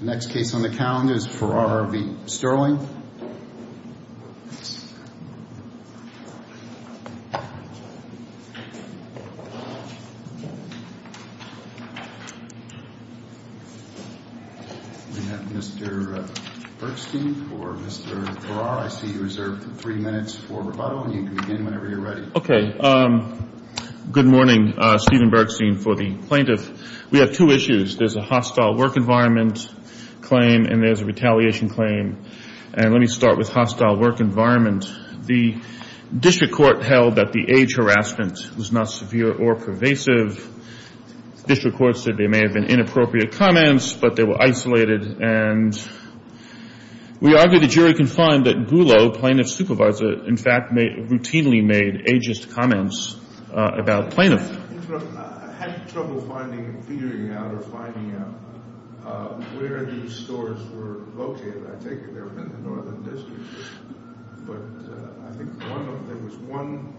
The next case on the calendar is Ferrara v. Sterling. We have Mr. Bergstein for Mr. Ferrara. I see you reserved three minutes for rebuttal, and you can begin whenever you're ready. Okay. Good morning. Stephen Bergstein for the plaintiff. We have two issues. There's a hostile work environment claim, and there's a retaliation claim. And let me start with hostile work environment. The district court held that the age harassment was not severe or pervasive. The district court said there may have been inappropriate comments, but they were isolated. And we argue the jury can find that Boulot, plaintiff's supervisor, in fact, routinely made ageist comments about plaintiffs. I had trouble finding, figuring out or finding out where these stores were located. I take it they were in the northern district. But I think one of them, there was one,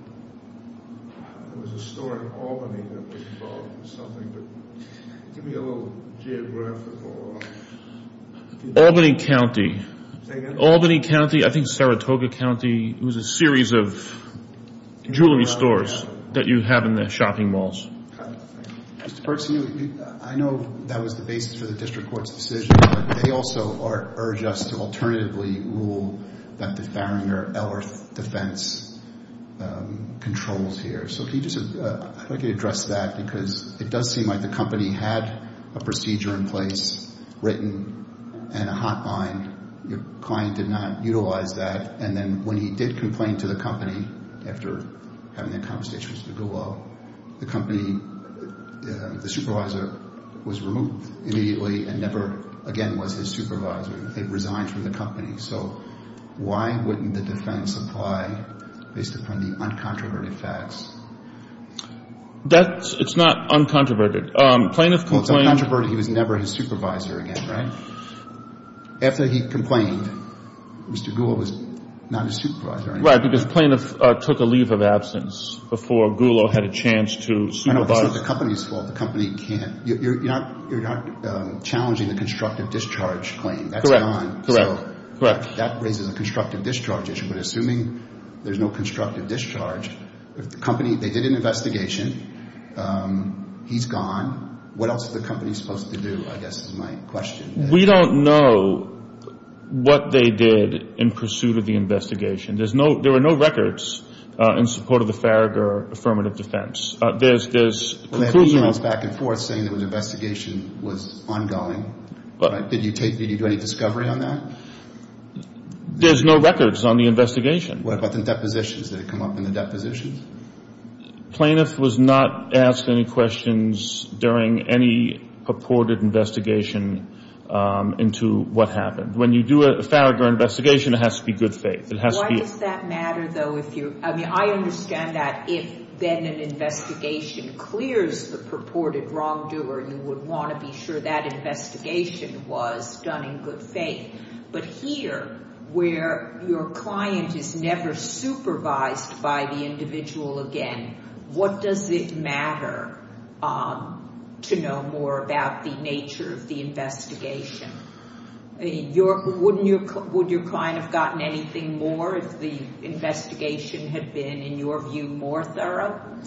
there was a store in Albany that was involved in something. Give me a little geographical... Albany County. Albany County. I think Saratoga County. It was a series of jewelry stores that you have in the shopping malls. Mr. Bergstein, I know that was the basis for the district court's decision, but they also urge us to alternatively rule that the Farringer-Ellworth defense controls here. I'd like to address that because it does seem like the company had a procedure in place written and a hotline. Your client did not utilize that. And then when he did complain to the company after having that conversation with Mr. Boulot, the company, the supervisor was removed immediately and never again was his supervisor. It resigned from the company. So why wouldn't the defense apply based upon the uncontroverted facts? It's not uncontroverted. Well, it's uncontroverted. He was never his supervisor again, right? After he complained, Mr. Boulot was not his supervisor anymore. Right, because plaintiff took a leave of absence before Boulot had a chance to supervise. I know. It's not the company's fault. The company can't. You're not challenging the constructive discharge claim. That's gone. Correct, correct. That raises a constructive discharge issue. But assuming there's no constructive discharge, the company, they did an investigation. He's gone. What else is the company supposed to do, I guess, is my question. We don't know what they did in pursuit of the investigation. There were no records in support of the Farringer affirmative defense. There's conclusions back and forth saying the investigation was ongoing. Did you do any discovery on that? There's no records on the investigation. What about the depositions? Did it come up in the depositions? Plaintiff was not asked any questions during any purported investigation into what happened. When you do a Farringer investigation, it has to be good faith. Why does that matter, though? I mean, I understand that if then an investigation clears the purported wrongdoer, you would want to be sure that investigation was done in good faith. But here, where your client is never supervised by the individual again, what does it matter to know more about the nature of the investigation? Would your client have gotten anything more if the investigation had been, in your view, more thorough?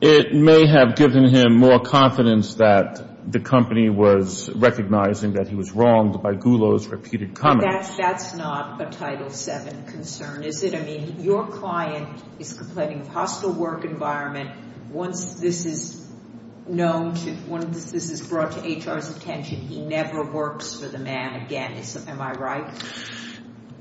It may have given him more confidence that the company was recognizing that he was wronged by Gulo's repeated comments. That's not a Title VII concern, is it? I mean, your client is complaining of hostile work environment. Once this is known, once this is brought to HR's attention, he never works for the man again. Am I right?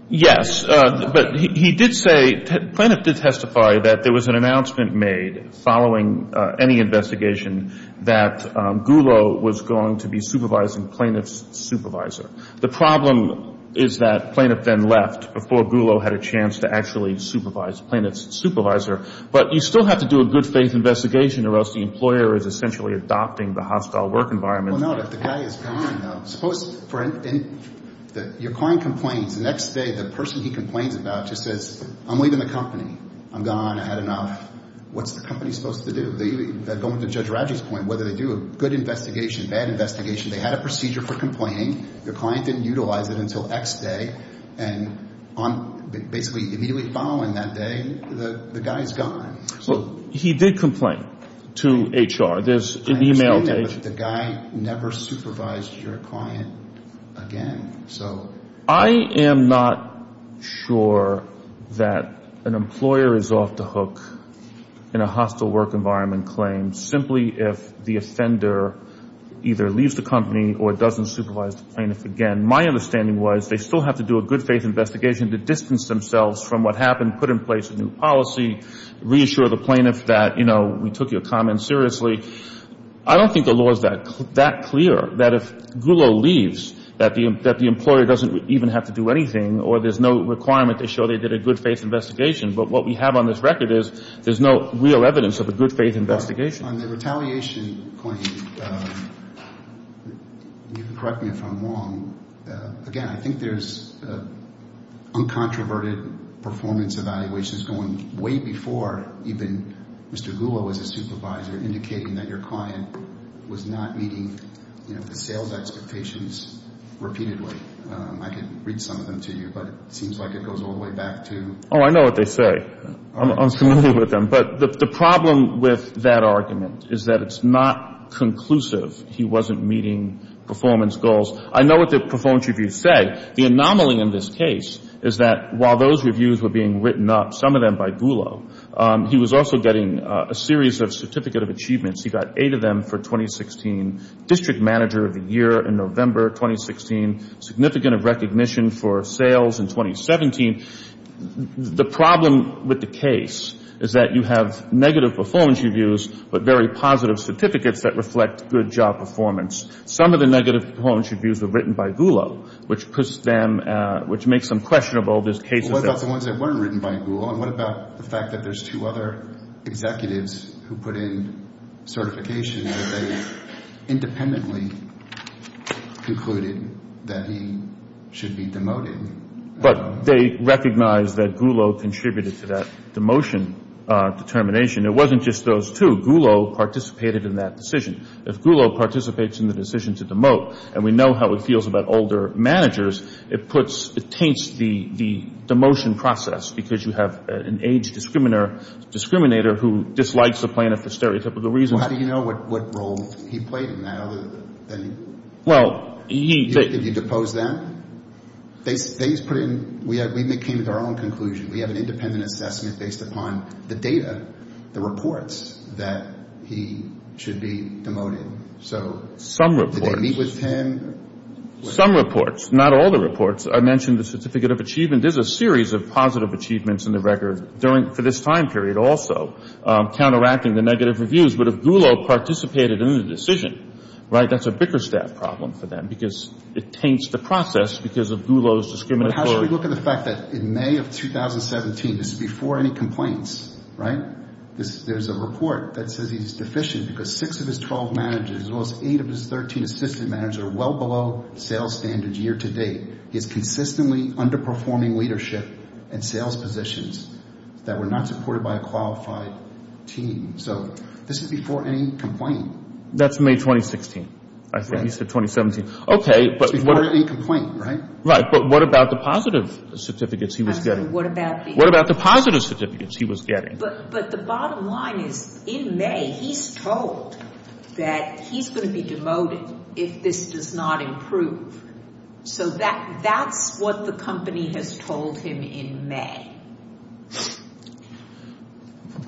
Yes. But he did say, Plaintiff did testify that there was an announcement made following any investigation that Gulo was going to be supervising Plaintiff's supervisor. The problem is that Plaintiff then left before Gulo had a chance to actually supervise Plaintiff's supervisor. But you still have to do a good faith investigation or else the employer is essentially adopting the hostile work environment. Suppose your client complains. The next day the person he complains about just says, I'm leaving the company. I'm gone. I had enough. What's the company supposed to do? Going to Judge Radji's point, whether they do a good investigation, bad investigation, they had a procedure for complaining, their client didn't utilize it until X day, and basically immediately following that day, the guy is gone. Well, he did complain to HR. I understand that, but the guy never supervised your client again. I am not sure that an employer is off the hook in a hostile work environment claim simply if the offender either leaves the company or doesn't supervise the plaintiff again. My understanding was they still have to do a good faith investigation to distance themselves from what happened, put in place a new policy, reassure the plaintiff that, you know, we took your comment seriously. I don't think the law is that clear that if Gulo leaves that the employer doesn't even have to do anything or there's no requirement to show they did a good faith investigation. But what we have on this record is there's no real evidence of a good faith investigation. On the retaliation claim, you can correct me if I'm wrong. Again, I think there's uncontroverted performance evaluations going way before even Mr. Gulo was a supervisor indicating that your client was not meeting, you know, the sales expectations repeatedly. I can read some of them to you, but it seems like it goes all the way back to. Oh, I know what they say. I'm familiar with them. But the problem with that argument is that it's not conclusive he wasn't meeting performance goals. I know what the performance reviews say. The anomaly in this case is that while those reviews were being written up, some of them by Gulo, he was also getting a series of certificate of achievements. He got eight of them for 2016, district manager of the year in November 2016, significant of recognition for sales in 2017. The problem with the case is that you have negative performance reviews but very positive certificates that reflect good job performance. Some of the negative performance reviews were written by Gulo, which puts them, which makes them questionable. What about the ones that weren't written by Gulo? And what about the fact that there's two other executives who put in certifications that they independently concluded that he should be demoted? But they recognized that Gulo contributed to that demotion determination. It wasn't just those two. Gulo participated in that decision. If Gulo participates in the decision to demote, and we know how he feels about older managers, it puts, it taints the demotion process because you have an age discriminator who dislikes the plaintiff for stereotypical reasons. How do you know what role he played in that other thing? Well, he... Did he depose them? They put in, we came to our own conclusion. We have an independent assessment based upon the data, the reports, that he should be demoted. So... Some reports. Did they meet with him? Some reports. Not all the reports. I mentioned the certificate of achievement. There's a series of positive achievements in the record during, for this time period also, counteracting the negative reviews. But if Gulo participated in the decision, right, that's a bicker staff problem for them because it taints the process because of Gulo's discriminatory... How should we look at the fact that in May of 2017, this is before any complaints, right? There's a report that says he's deficient because six of his 12 managers, as well as eight of his 13 assistant managers, are well below sales standards year to date. He's consistently underperforming leadership and sales positions that were not supported by a qualified team. So this is before any complaint. That's May 2016, I think. He said 2017. Okay, but... It's before any complaint, right? Right. But what about the positive certificates he was getting? What about the... What about the positive certificates he was getting? But the bottom line is, in May, he's told that he's going to be demoted if this does not improve. So that's what the company has told him in May.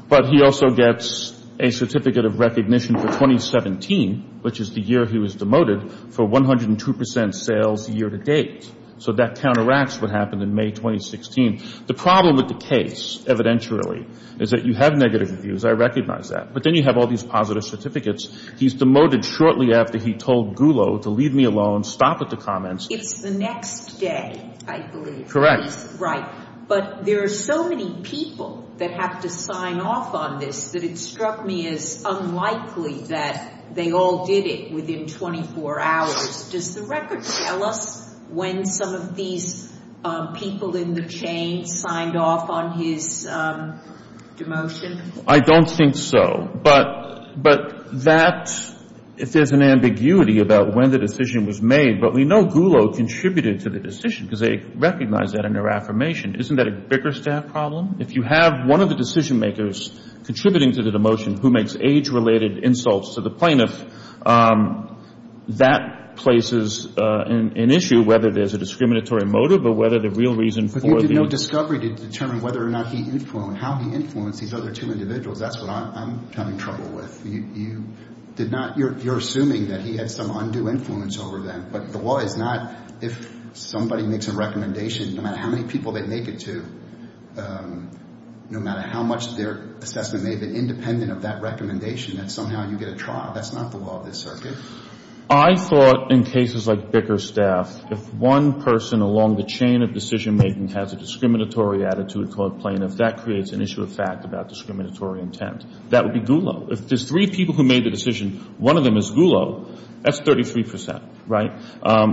But he also gets a certificate of recognition for 2017, which is the year he was demoted, for 102% sales year to date. So that counteracts what happened in May 2016. The problem with the case, evidentially, is that you have negative reviews. I recognize that. But then you have all these positive certificates. He's demoted shortly after he told Gulo to leave me alone, stop at the comments. It's the next day, I believe. Correct. Right. But there are so many people that have to sign off on this that it struck me as unlikely that they all did it within 24 hours. Does the record tell us when some of these people in the chain signed off on his demotion? I don't think so. But that, if there's an ambiguity about when the decision was made, but we know Gulo contributed to the decision because they recognized that in their affirmation. Isn't that a bigger staff problem? If you have one of the decision makers contributing to the demotion who makes age-related insults to the plaintiff, that places an issue, whether there's a discriminatory motive or whether the real reason for the— But you did no discovery to determine whether or not he influenced, how he influenced these other two individuals. That's what I'm having trouble with. You did not. You're assuming that he had some undue influence over them. But the law is not if somebody makes a recommendation, no matter how many people they make it to, no matter how much their assessment may have been independent of that recommendation, that somehow you get a trial. That's not the law of this circuit. I thought in cases like Bicker Staff, if one person along the chain of decision-making has a discriminatory attitude toward plaintiffs, that creates an issue of fact about discriminatory intent. That would be Gulo. If there's three people who made the decision, one of them is Gulo, that's 33%, right?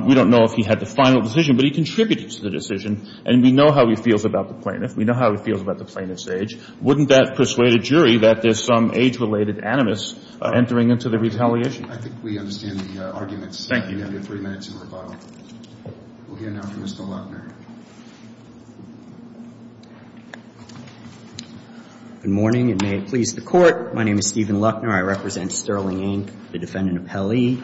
We don't know if he had the final decision, but he contributed to the decision. And we know how he feels about the plaintiff. We know how he feels about the plaintiff's age. Wouldn't that persuade a jury that there's some age-related animus entering into the retaliation? I think we understand the arguments. Thank you. You have your three minutes in rebuttal. We'll hear now from Mr. Luckner. Good morning, and may it please the Court. My name is Stephen Luckner. I represent Sterling, Inc., the defendant appellee.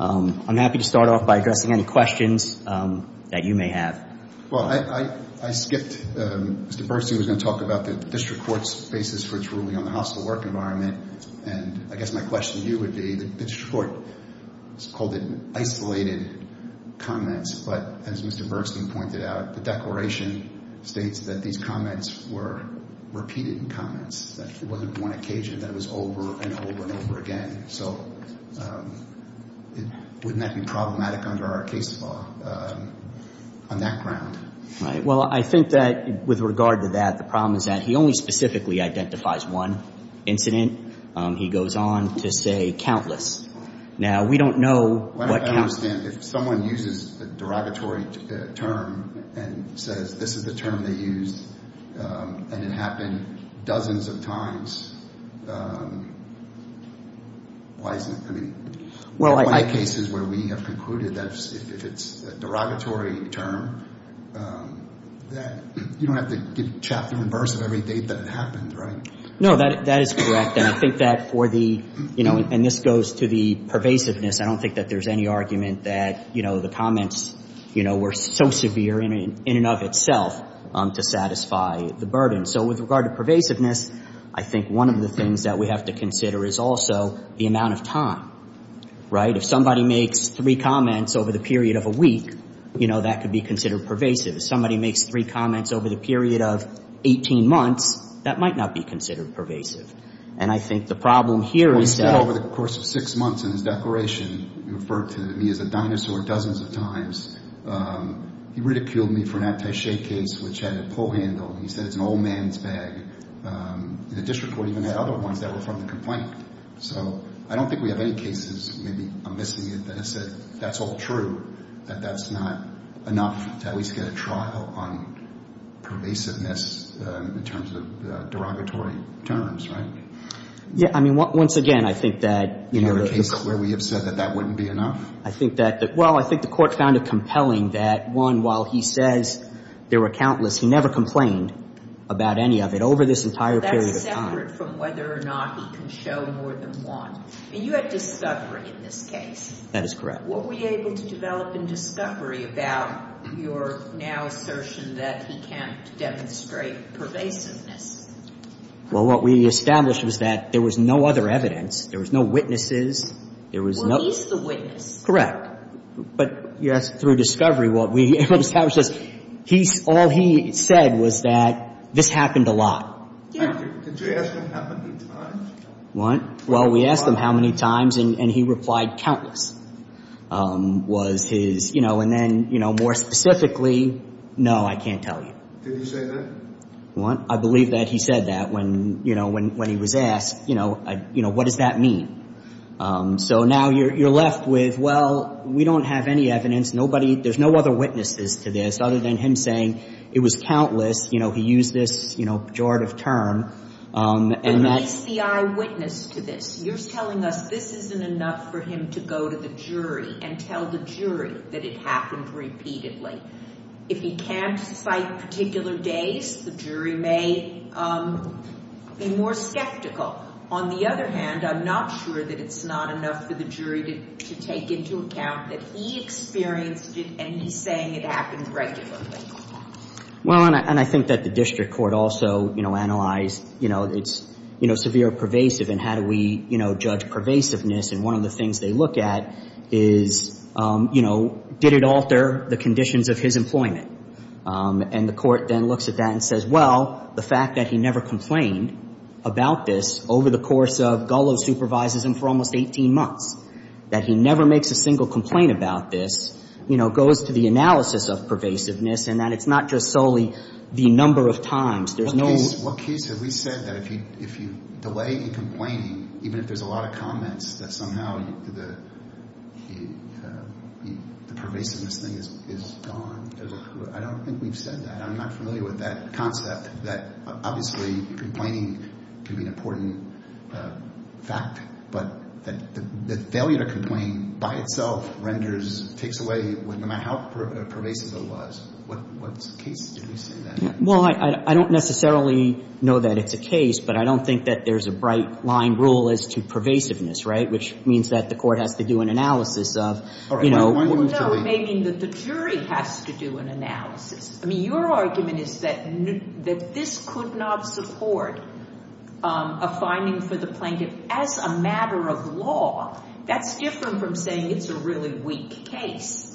I'm happy to start off by addressing any questions that you may have. Well, I skipped. Mr. Burstein was going to talk about the district court's basis for its ruling on the hostile work environment. And I guess my question to you would be, the district court has called it isolated comments, but as Mr. Burstein pointed out, the declaration states that these comments were repeated comments, that it wasn't one occasion, that it was over and over and over again. So wouldn't that be problematic under our case law on that ground? Right. Well, I think that with regard to that, the problem is that he only specifically identifies one incident. He goes on to say countless. Now, we don't know what counts. I don't understand. If someone uses a derogatory term and says this is the term they used and it happened dozens of times, why isn't it? I mean, in my cases where we have concluded that if it's a derogatory term, you don't have to give chapter and verse of every date that it happened, right? No, that is correct. And I think that for the, you know, and this goes to the pervasiveness, I don't think that there's any argument that, you know, the comments, you know, were so severe in and of itself to satisfy the burden. So with regard to pervasiveness, I think one of the things that we have to consider is also the amount of time, right? If somebody makes three comments over the period of a week, you know, that could be considered pervasive. If somebody makes three comments over the period of 18 months, that might not be considered pervasive. And I think the problem here is that. Well, he said over the course of six months in his declaration, he referred to me as a dinosaur dozens of times. He ridiculed me for an anti-shea case, which had a pull handle. He said it's an old man's bag. The district court even had other ones that were from the complaint. So I don't think we have any cases, maybe I'm missing it, that have said that's all true, that that's not enough to at least get a trial on pervasiveness in terms of derogatory terms, right? Yeah. I mean, once again, I think that, you know. Is there a case where we have said that that wouldn't be enough? I think that. Well, I think the Court found it compelling that, one, while he says there were countless, he never complained about any of it over this entire period of time. Well, that's separate from whether or not he can show more than one. I mean, you had discovery in this case. That is correct. What were you able to develop in discovery about your now assertion that he can't demonstrate pervasiveness? Well, what we established was that there was no other evidence. There was no witnesses. Well, he's the witness. Correct. But, yes, through discovery, what we established is all he said was that this happened a lot. Yeah. Did you ask him how many times? What? Well, we asked him how many times, and he replied countless. Was his, you know, and then, you know, more specifically, no, I can't tell you. Did he say that? What? I believe that he said that when, you know, when he was asked, you know, what does that mean? So now you're left with, well, we don't have any evidence. Nobody, there's no other witnesses to this other than him saying it was countless. You know, he used this, you know, pejorative term. But he's the eyewitness to this. You're telling us this isn't enough for him to go to the jury and tell the jury that it happened repeatedly. If he can't cite particular days, the jury may be more skeptical. On the other hand, I'm not sure that it's not enough for the jury to take into account that he experienced it and he's saying it happens regularly. Well, and I think that the district court also, you know, analyzed, you know, it's, you know, severe pervasive and how do we, you know, judge pervasiveness. And one of the things they look at is, you know, did it alter the conditions of his employment? And the court then looks at that and says, well, the fact that he never complained about this over the course of Gullo's supervisors and for almost 18 months, that he never makes a single complaint about this, you know, goes to the analysis of pervasiveness and that it's not just solely the number of times. What case have we said that if you delay in complaining, even if there's a lot of comments, that somehow the pervasiveness thing is gone? I don't think we've said that. I'm not familiar with that concept that obviously complaining can be an important fact, but the failure to complain by itself renders, takes away, no matter how pervasive it was. What case did we say that? Well, I don't necessarily know that it's a case, but I don't think that there's a bright line rule as to pervasiveness, right, which means that the court has to do an analysis of, you know. Well, no, it may mean that the jury has to do an analysis. I mean, your argument is that this could not support a finding for the plaintiff as a matter of law. That's different from saying it's a really weak case.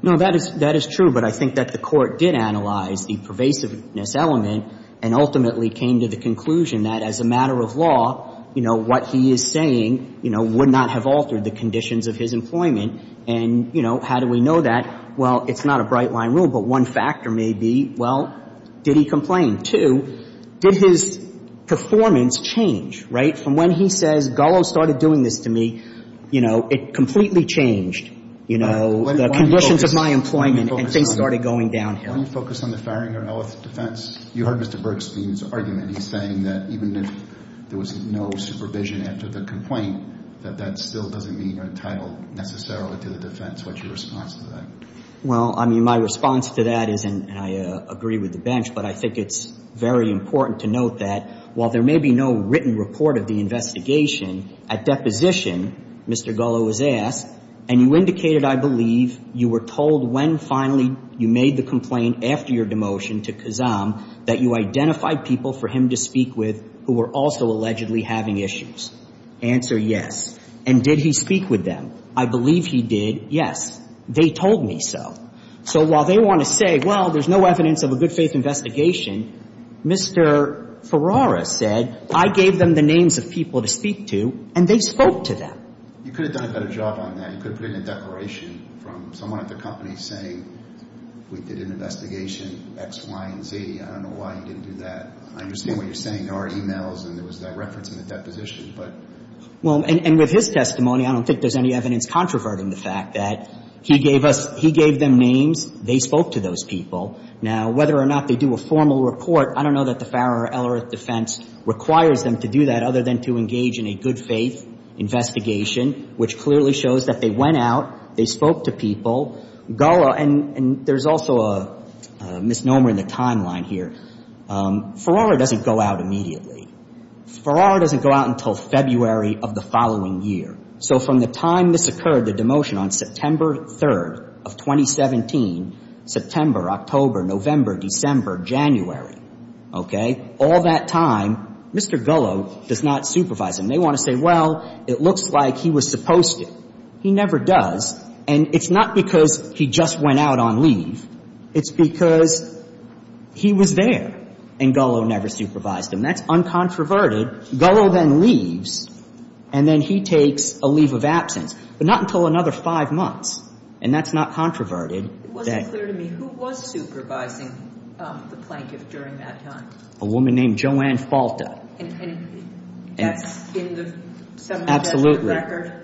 No, that is true, but I think that the court did analyze the pervasiveness element and ultimately came to the conclusion that as a matter of law, you know, what he is saying, you know, would not have altered the conditions of his employment. And, you know, how do we know that? Well, it's not a bright line rule, but one factor may be, well, did he complain? Two, did his performance change, right? From when he says Gullo started doing this to me, you know, it completely changed, you know, the conditions of my employment and things started going downhill. Why don't you focus on the firing or health defense? You heard Mr. Bergstein's argument. He's saying that even if there was no supervision after the complaint, that that still doesn't mean you're entitled necessarily to the defense. What's your response to that? Well, I mean, my response to that is, and I agree with the bench, but I think it's very important to note that while there may be no written report of the investigation, at deposition, Mr. Gullo was asked, and you indicated, I believe, you were told when finally you made the complaint after your demotion to Kazam that you identified people for him to speak with who were also allegedly having issues. Answer, yes. And did he speak with them? I believe he did, yes. They told me so. So while they want to say, well, there's no evidence of a good faith investigation, Mr. Ferrara said, I gave them the names of people to speak to, and they spoke to them. You could have done a better job on that. You could have put in a declaration from someone at the company saying we did an investigation X, Y, and Z. I don't know why you didn't do that. I understand what you're saying. There are e-mails and there was that reference in the deposition, but. Well, and with his testimony, I don't think there's any evidence controverting the fact that he gave us, he gave them names, they spoke to those people. Now, whether or not they do a formal report, I don't know that the Farrer or Ellerith defense requires them to do that other than to engage in a good faith investigation, which clearly shows that they went out, they spoke to people. Gullo, and there's also a misnomer in the timeline here. Ferrara doesn't go out immediately. Ferrara doesn't go out until February of the following year. So from the time this occurred, the demotion on September 3rd of 2017, September, October, November, December, January, okay, all that time, Mr. Gullo does not supervise him. They want to say, well, it looks like he was supposed to. He never does, and it's not because he just went out on leave. It's because he was there and Gullo never supervised him. That's uncontroverted. Gullo then leaves, and then he takes a leave of absence, but not until another five months, and that's not controverted. It wasn't clear to me who was supervising the plaintiff during that time. A woman named Joanne Falta. And that's in the seminal record?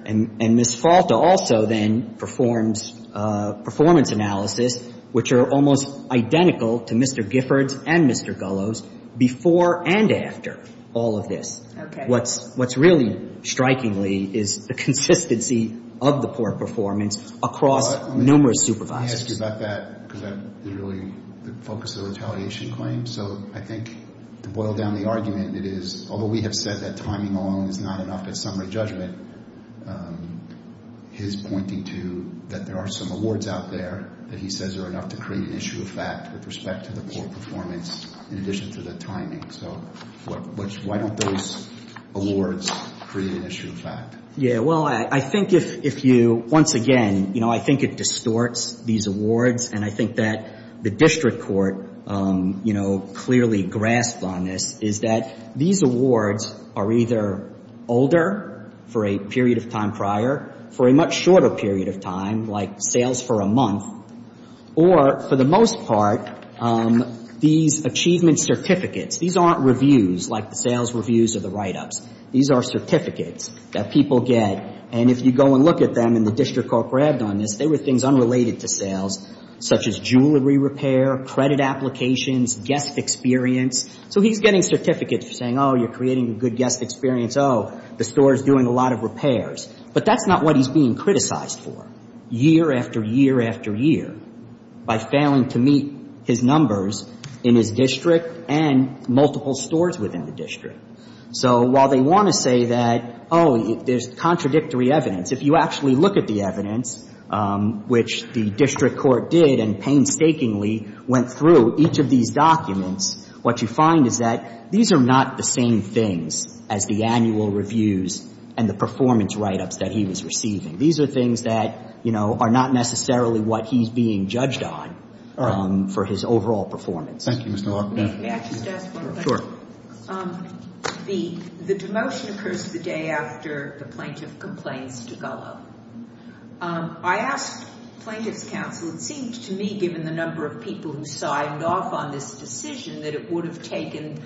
Absolutely. And Ms. Falta also then performs performance analysis, which are almost identical to Mr. Giffords and Mr. Gullo's, before and after all of this. Okay. What's really strikingly is the consistency of the poor performance across numerous supervisors. Let me ask you about that, because that's really the focus of the retaliation claim. So I think to boil down the argument, it is, although we have said that timing alone is not enough at summary judgment, his pointing to that there are some awards out there that he says are enough to create an issue of fact with respect to the poor performance, in addition to the timing. So why don't those awards create an issue of fact? Yeah, well, I think if you, once again, you know, I think it distorts these awards, and I think that the district court, you know, clearly grasped on this, is that these awards are either older for a period of time prior, for a much shorter period of time, like sales for a month, or, for the most part, these achievement certificates. These aren't reviews, like the sales reviews or the write-ups. These are certificates that people get. And if you go and look at them and the district court grabbed on this, they were things unrelated to sales, such as jewelry repair, credit applications, guest experience. So he's getting certificates for saying, oh, you're creating a good guest experience. Oh, the store is doing a lot of repairs. But that's not what he's being criticized for, year after year after year, by failing to meet his numbers in his district and multiple stores within the district. So while they want to say that, oh, there's contradictory evidence, if you actually look at the evidence, which the district court did and painstakingly went through each of these documents, what you find is that these are not the same things as the annual reviews and the performance write-ups that he was receiving. These are things that, you know, are not necessarily what he's being judged on for his overall performance. Thank you, Mr. Walker. May I just ask one question? Sure. The demotion occurs the day after the plaintiff complains to Gullah. I asked plaintiffs' counsel, it seemed to me, given the number of people who signed off on this decision, that it would have taken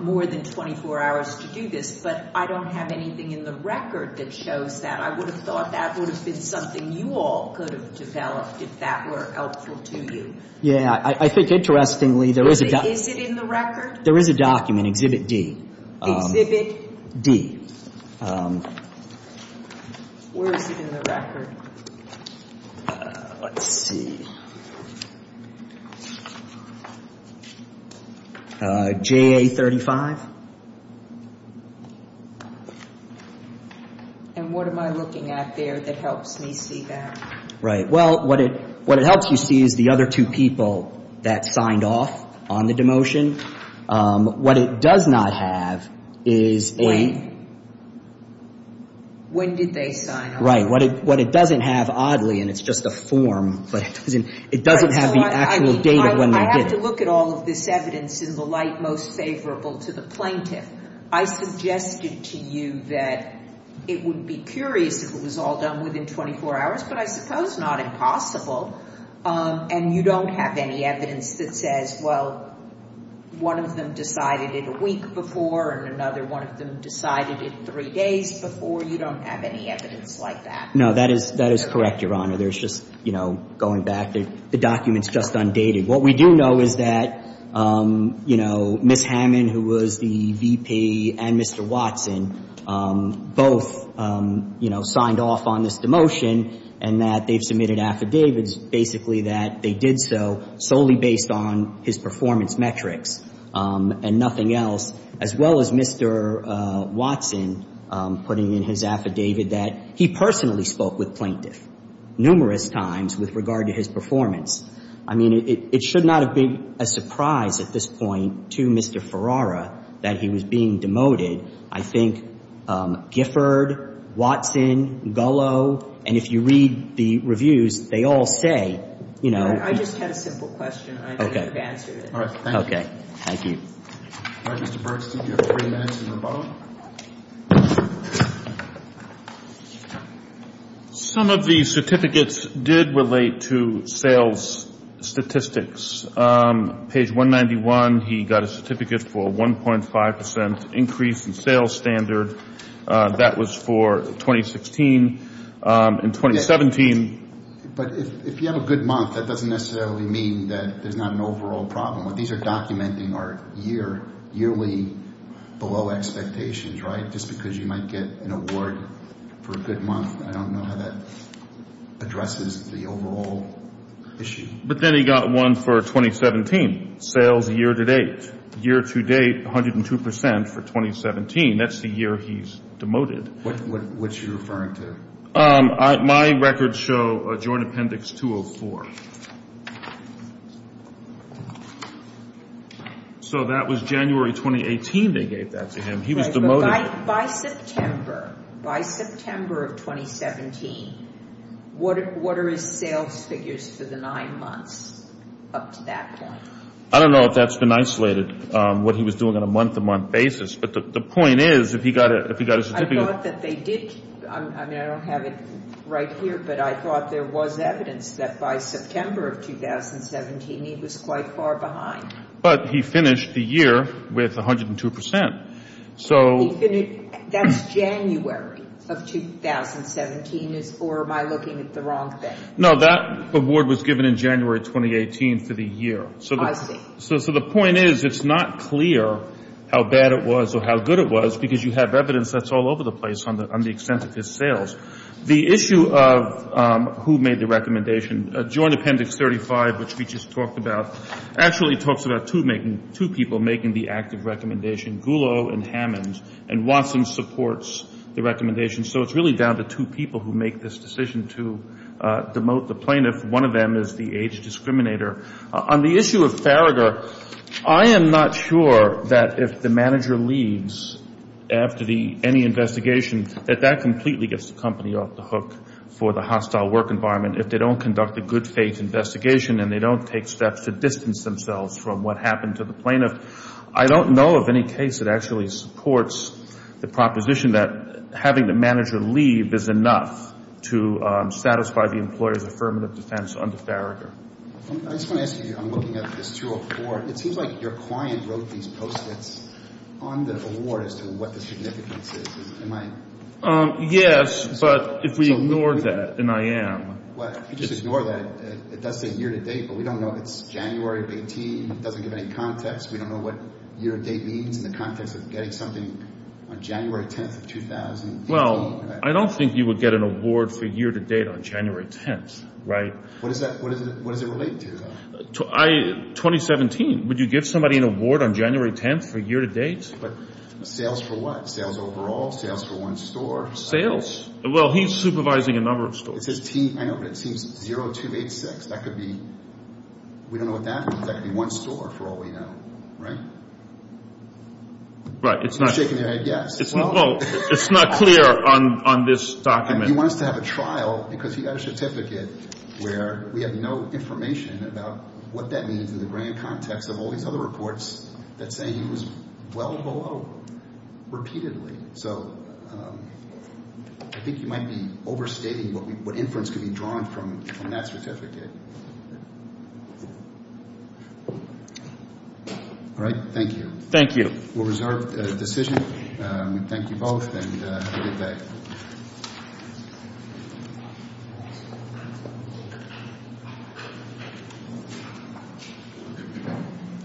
more than 24 hours to do this. But I don't have anything in the record that shows that. I would have thought that would have been something you all could have developed if that were helpful to you. Yeah. I think, interestingly, there is a document. Is it in the record? There is a document, Exhibit D. Exhibit? D. Where is it in the record? Let's see. JA35. And what am I looking at there that helps me see that? Right. Well, what it helps you see is the other two people that signed off on the demotion. What it does not have is a — When? When did they sign off? Right. What it doesn't have, oddly, and it's just a form, but it doesn't have the actual date of when they did. I have to look at all of this evidence in the light most favorable to the plaintiff. I suggested to you that it would be curious if it was all done within 24 hours, but I suppose not impossible. And you don't have any evidence that says, well, one of them decided it a week before and another one of them decided it three days before. You don't have any evidence like that. No, that is correct, Your Honor. There's just, you know, going back, the document's just undated. What we do know is that, you know, Ms. Hammond, who was the VP, and Mr. Watson both, you know, signed off on this demotion and that they've submitted affidavits basically that they did so solely based on his performance metrics and nothing else, as well as Mr. Watson putting in his affidavit that he personally spoke with plaintiff numerous times with regard to his performance. I mean, it should not have been a surprise at this point to Mr. Ferrara that he was being demoted. I think Gifford, Watson, Gullo, and if you read the reviews, they all say, you know, I just had a simple question. I know you've answered it. All right. Thank you. All right. Thank you. All right, Mr. Bergstein. You have three minutes in the boat. Some of the certificates did relate to sales statistics. Page 191, he got a certificate for 1.5% increase in sales standard. That was for 2016. In 2017. But if you have a good month, that doesn't necessarily mean that there's not an overall problem. These are documenting our year, yearly below expectations, right? Just because you might get an award for a good month, I don't know how that addresses the overall issue. But then he got one for 2017, sales year to date. Year to date, 102% for 2017. That's the year he's demoted. What's he referring to? My records show a joint appendix 204. So that was January 2018 they gave that to him. He was demoted. By September, by September of 2017, what are his sales figures for the nine months up to that point? I don't know if that's been isolated, what he was doing on a month-to-month basis. But the point is, if he got a certificate. I thought that they did. I mean, I don't have it right here. But I thought there was evidence that by September of 2017, he was quite far behind. But he finished the year with 102%. That's January of 2017, or am I looking at the wrong thing? No, that award was given in January 2018 for the year. I see. So the point is, it's not clear how bad it was or how good it was, because you have evidence that's all over the place on the extent of his sales. The issue of who made the recommendation, joint appendix 35, which we just talked about, actually talks about two people making the active recommendation, Goulow and Hammond. And Watson supports the recommendation. So it's really down to two people who make this decision to demote the plaintiff. One of them is the age discriminator. On the issue of Farragher, I am not sure that if the manager leaves after any investigation, that that completely gets the company off the hook for the hostile work environment if they don't conduct a good faith investigation and they don't take steps to distance themselves from what happened to the plaintiff. I don't know of any case that actually supports the proposition that having the manager leave is enough to satisfy the employer's affirmative defense under Farragher. I just want to ask you, I'm looking at this 204. It seems like your client wrote these post-its on the award as to what the significance is. Yes, but if we ignored that, and I am. If you just ignore that, it does say year to date, but we don't know if it's January of 18. It doesn't give any context. We don't know what year to date means in the context of getting something on January 10th of 2000. Well, I don't think you would get an award for year to date on January 10th, right? What does it relate to? 2017, would you give somebody an award on January 10th for year to date? Sales for what? Sales overall? Sales for one store? Sales. Well, he's supervising a number of stores. It says T, I know, but it seems 0286. That could be, we don't know what that means. That could be one store for all we know, right? Right, it's not clear on this document. He wants to have a trial because he got a certificate where we have no information about what that means in the grand context of all these other reports that say he was well below repeatedly. So I think you might be overstating what inference could be drawn from that certificate. All right, thank you. Thank you. We'll reserve the decision. We thank you both and have a good day.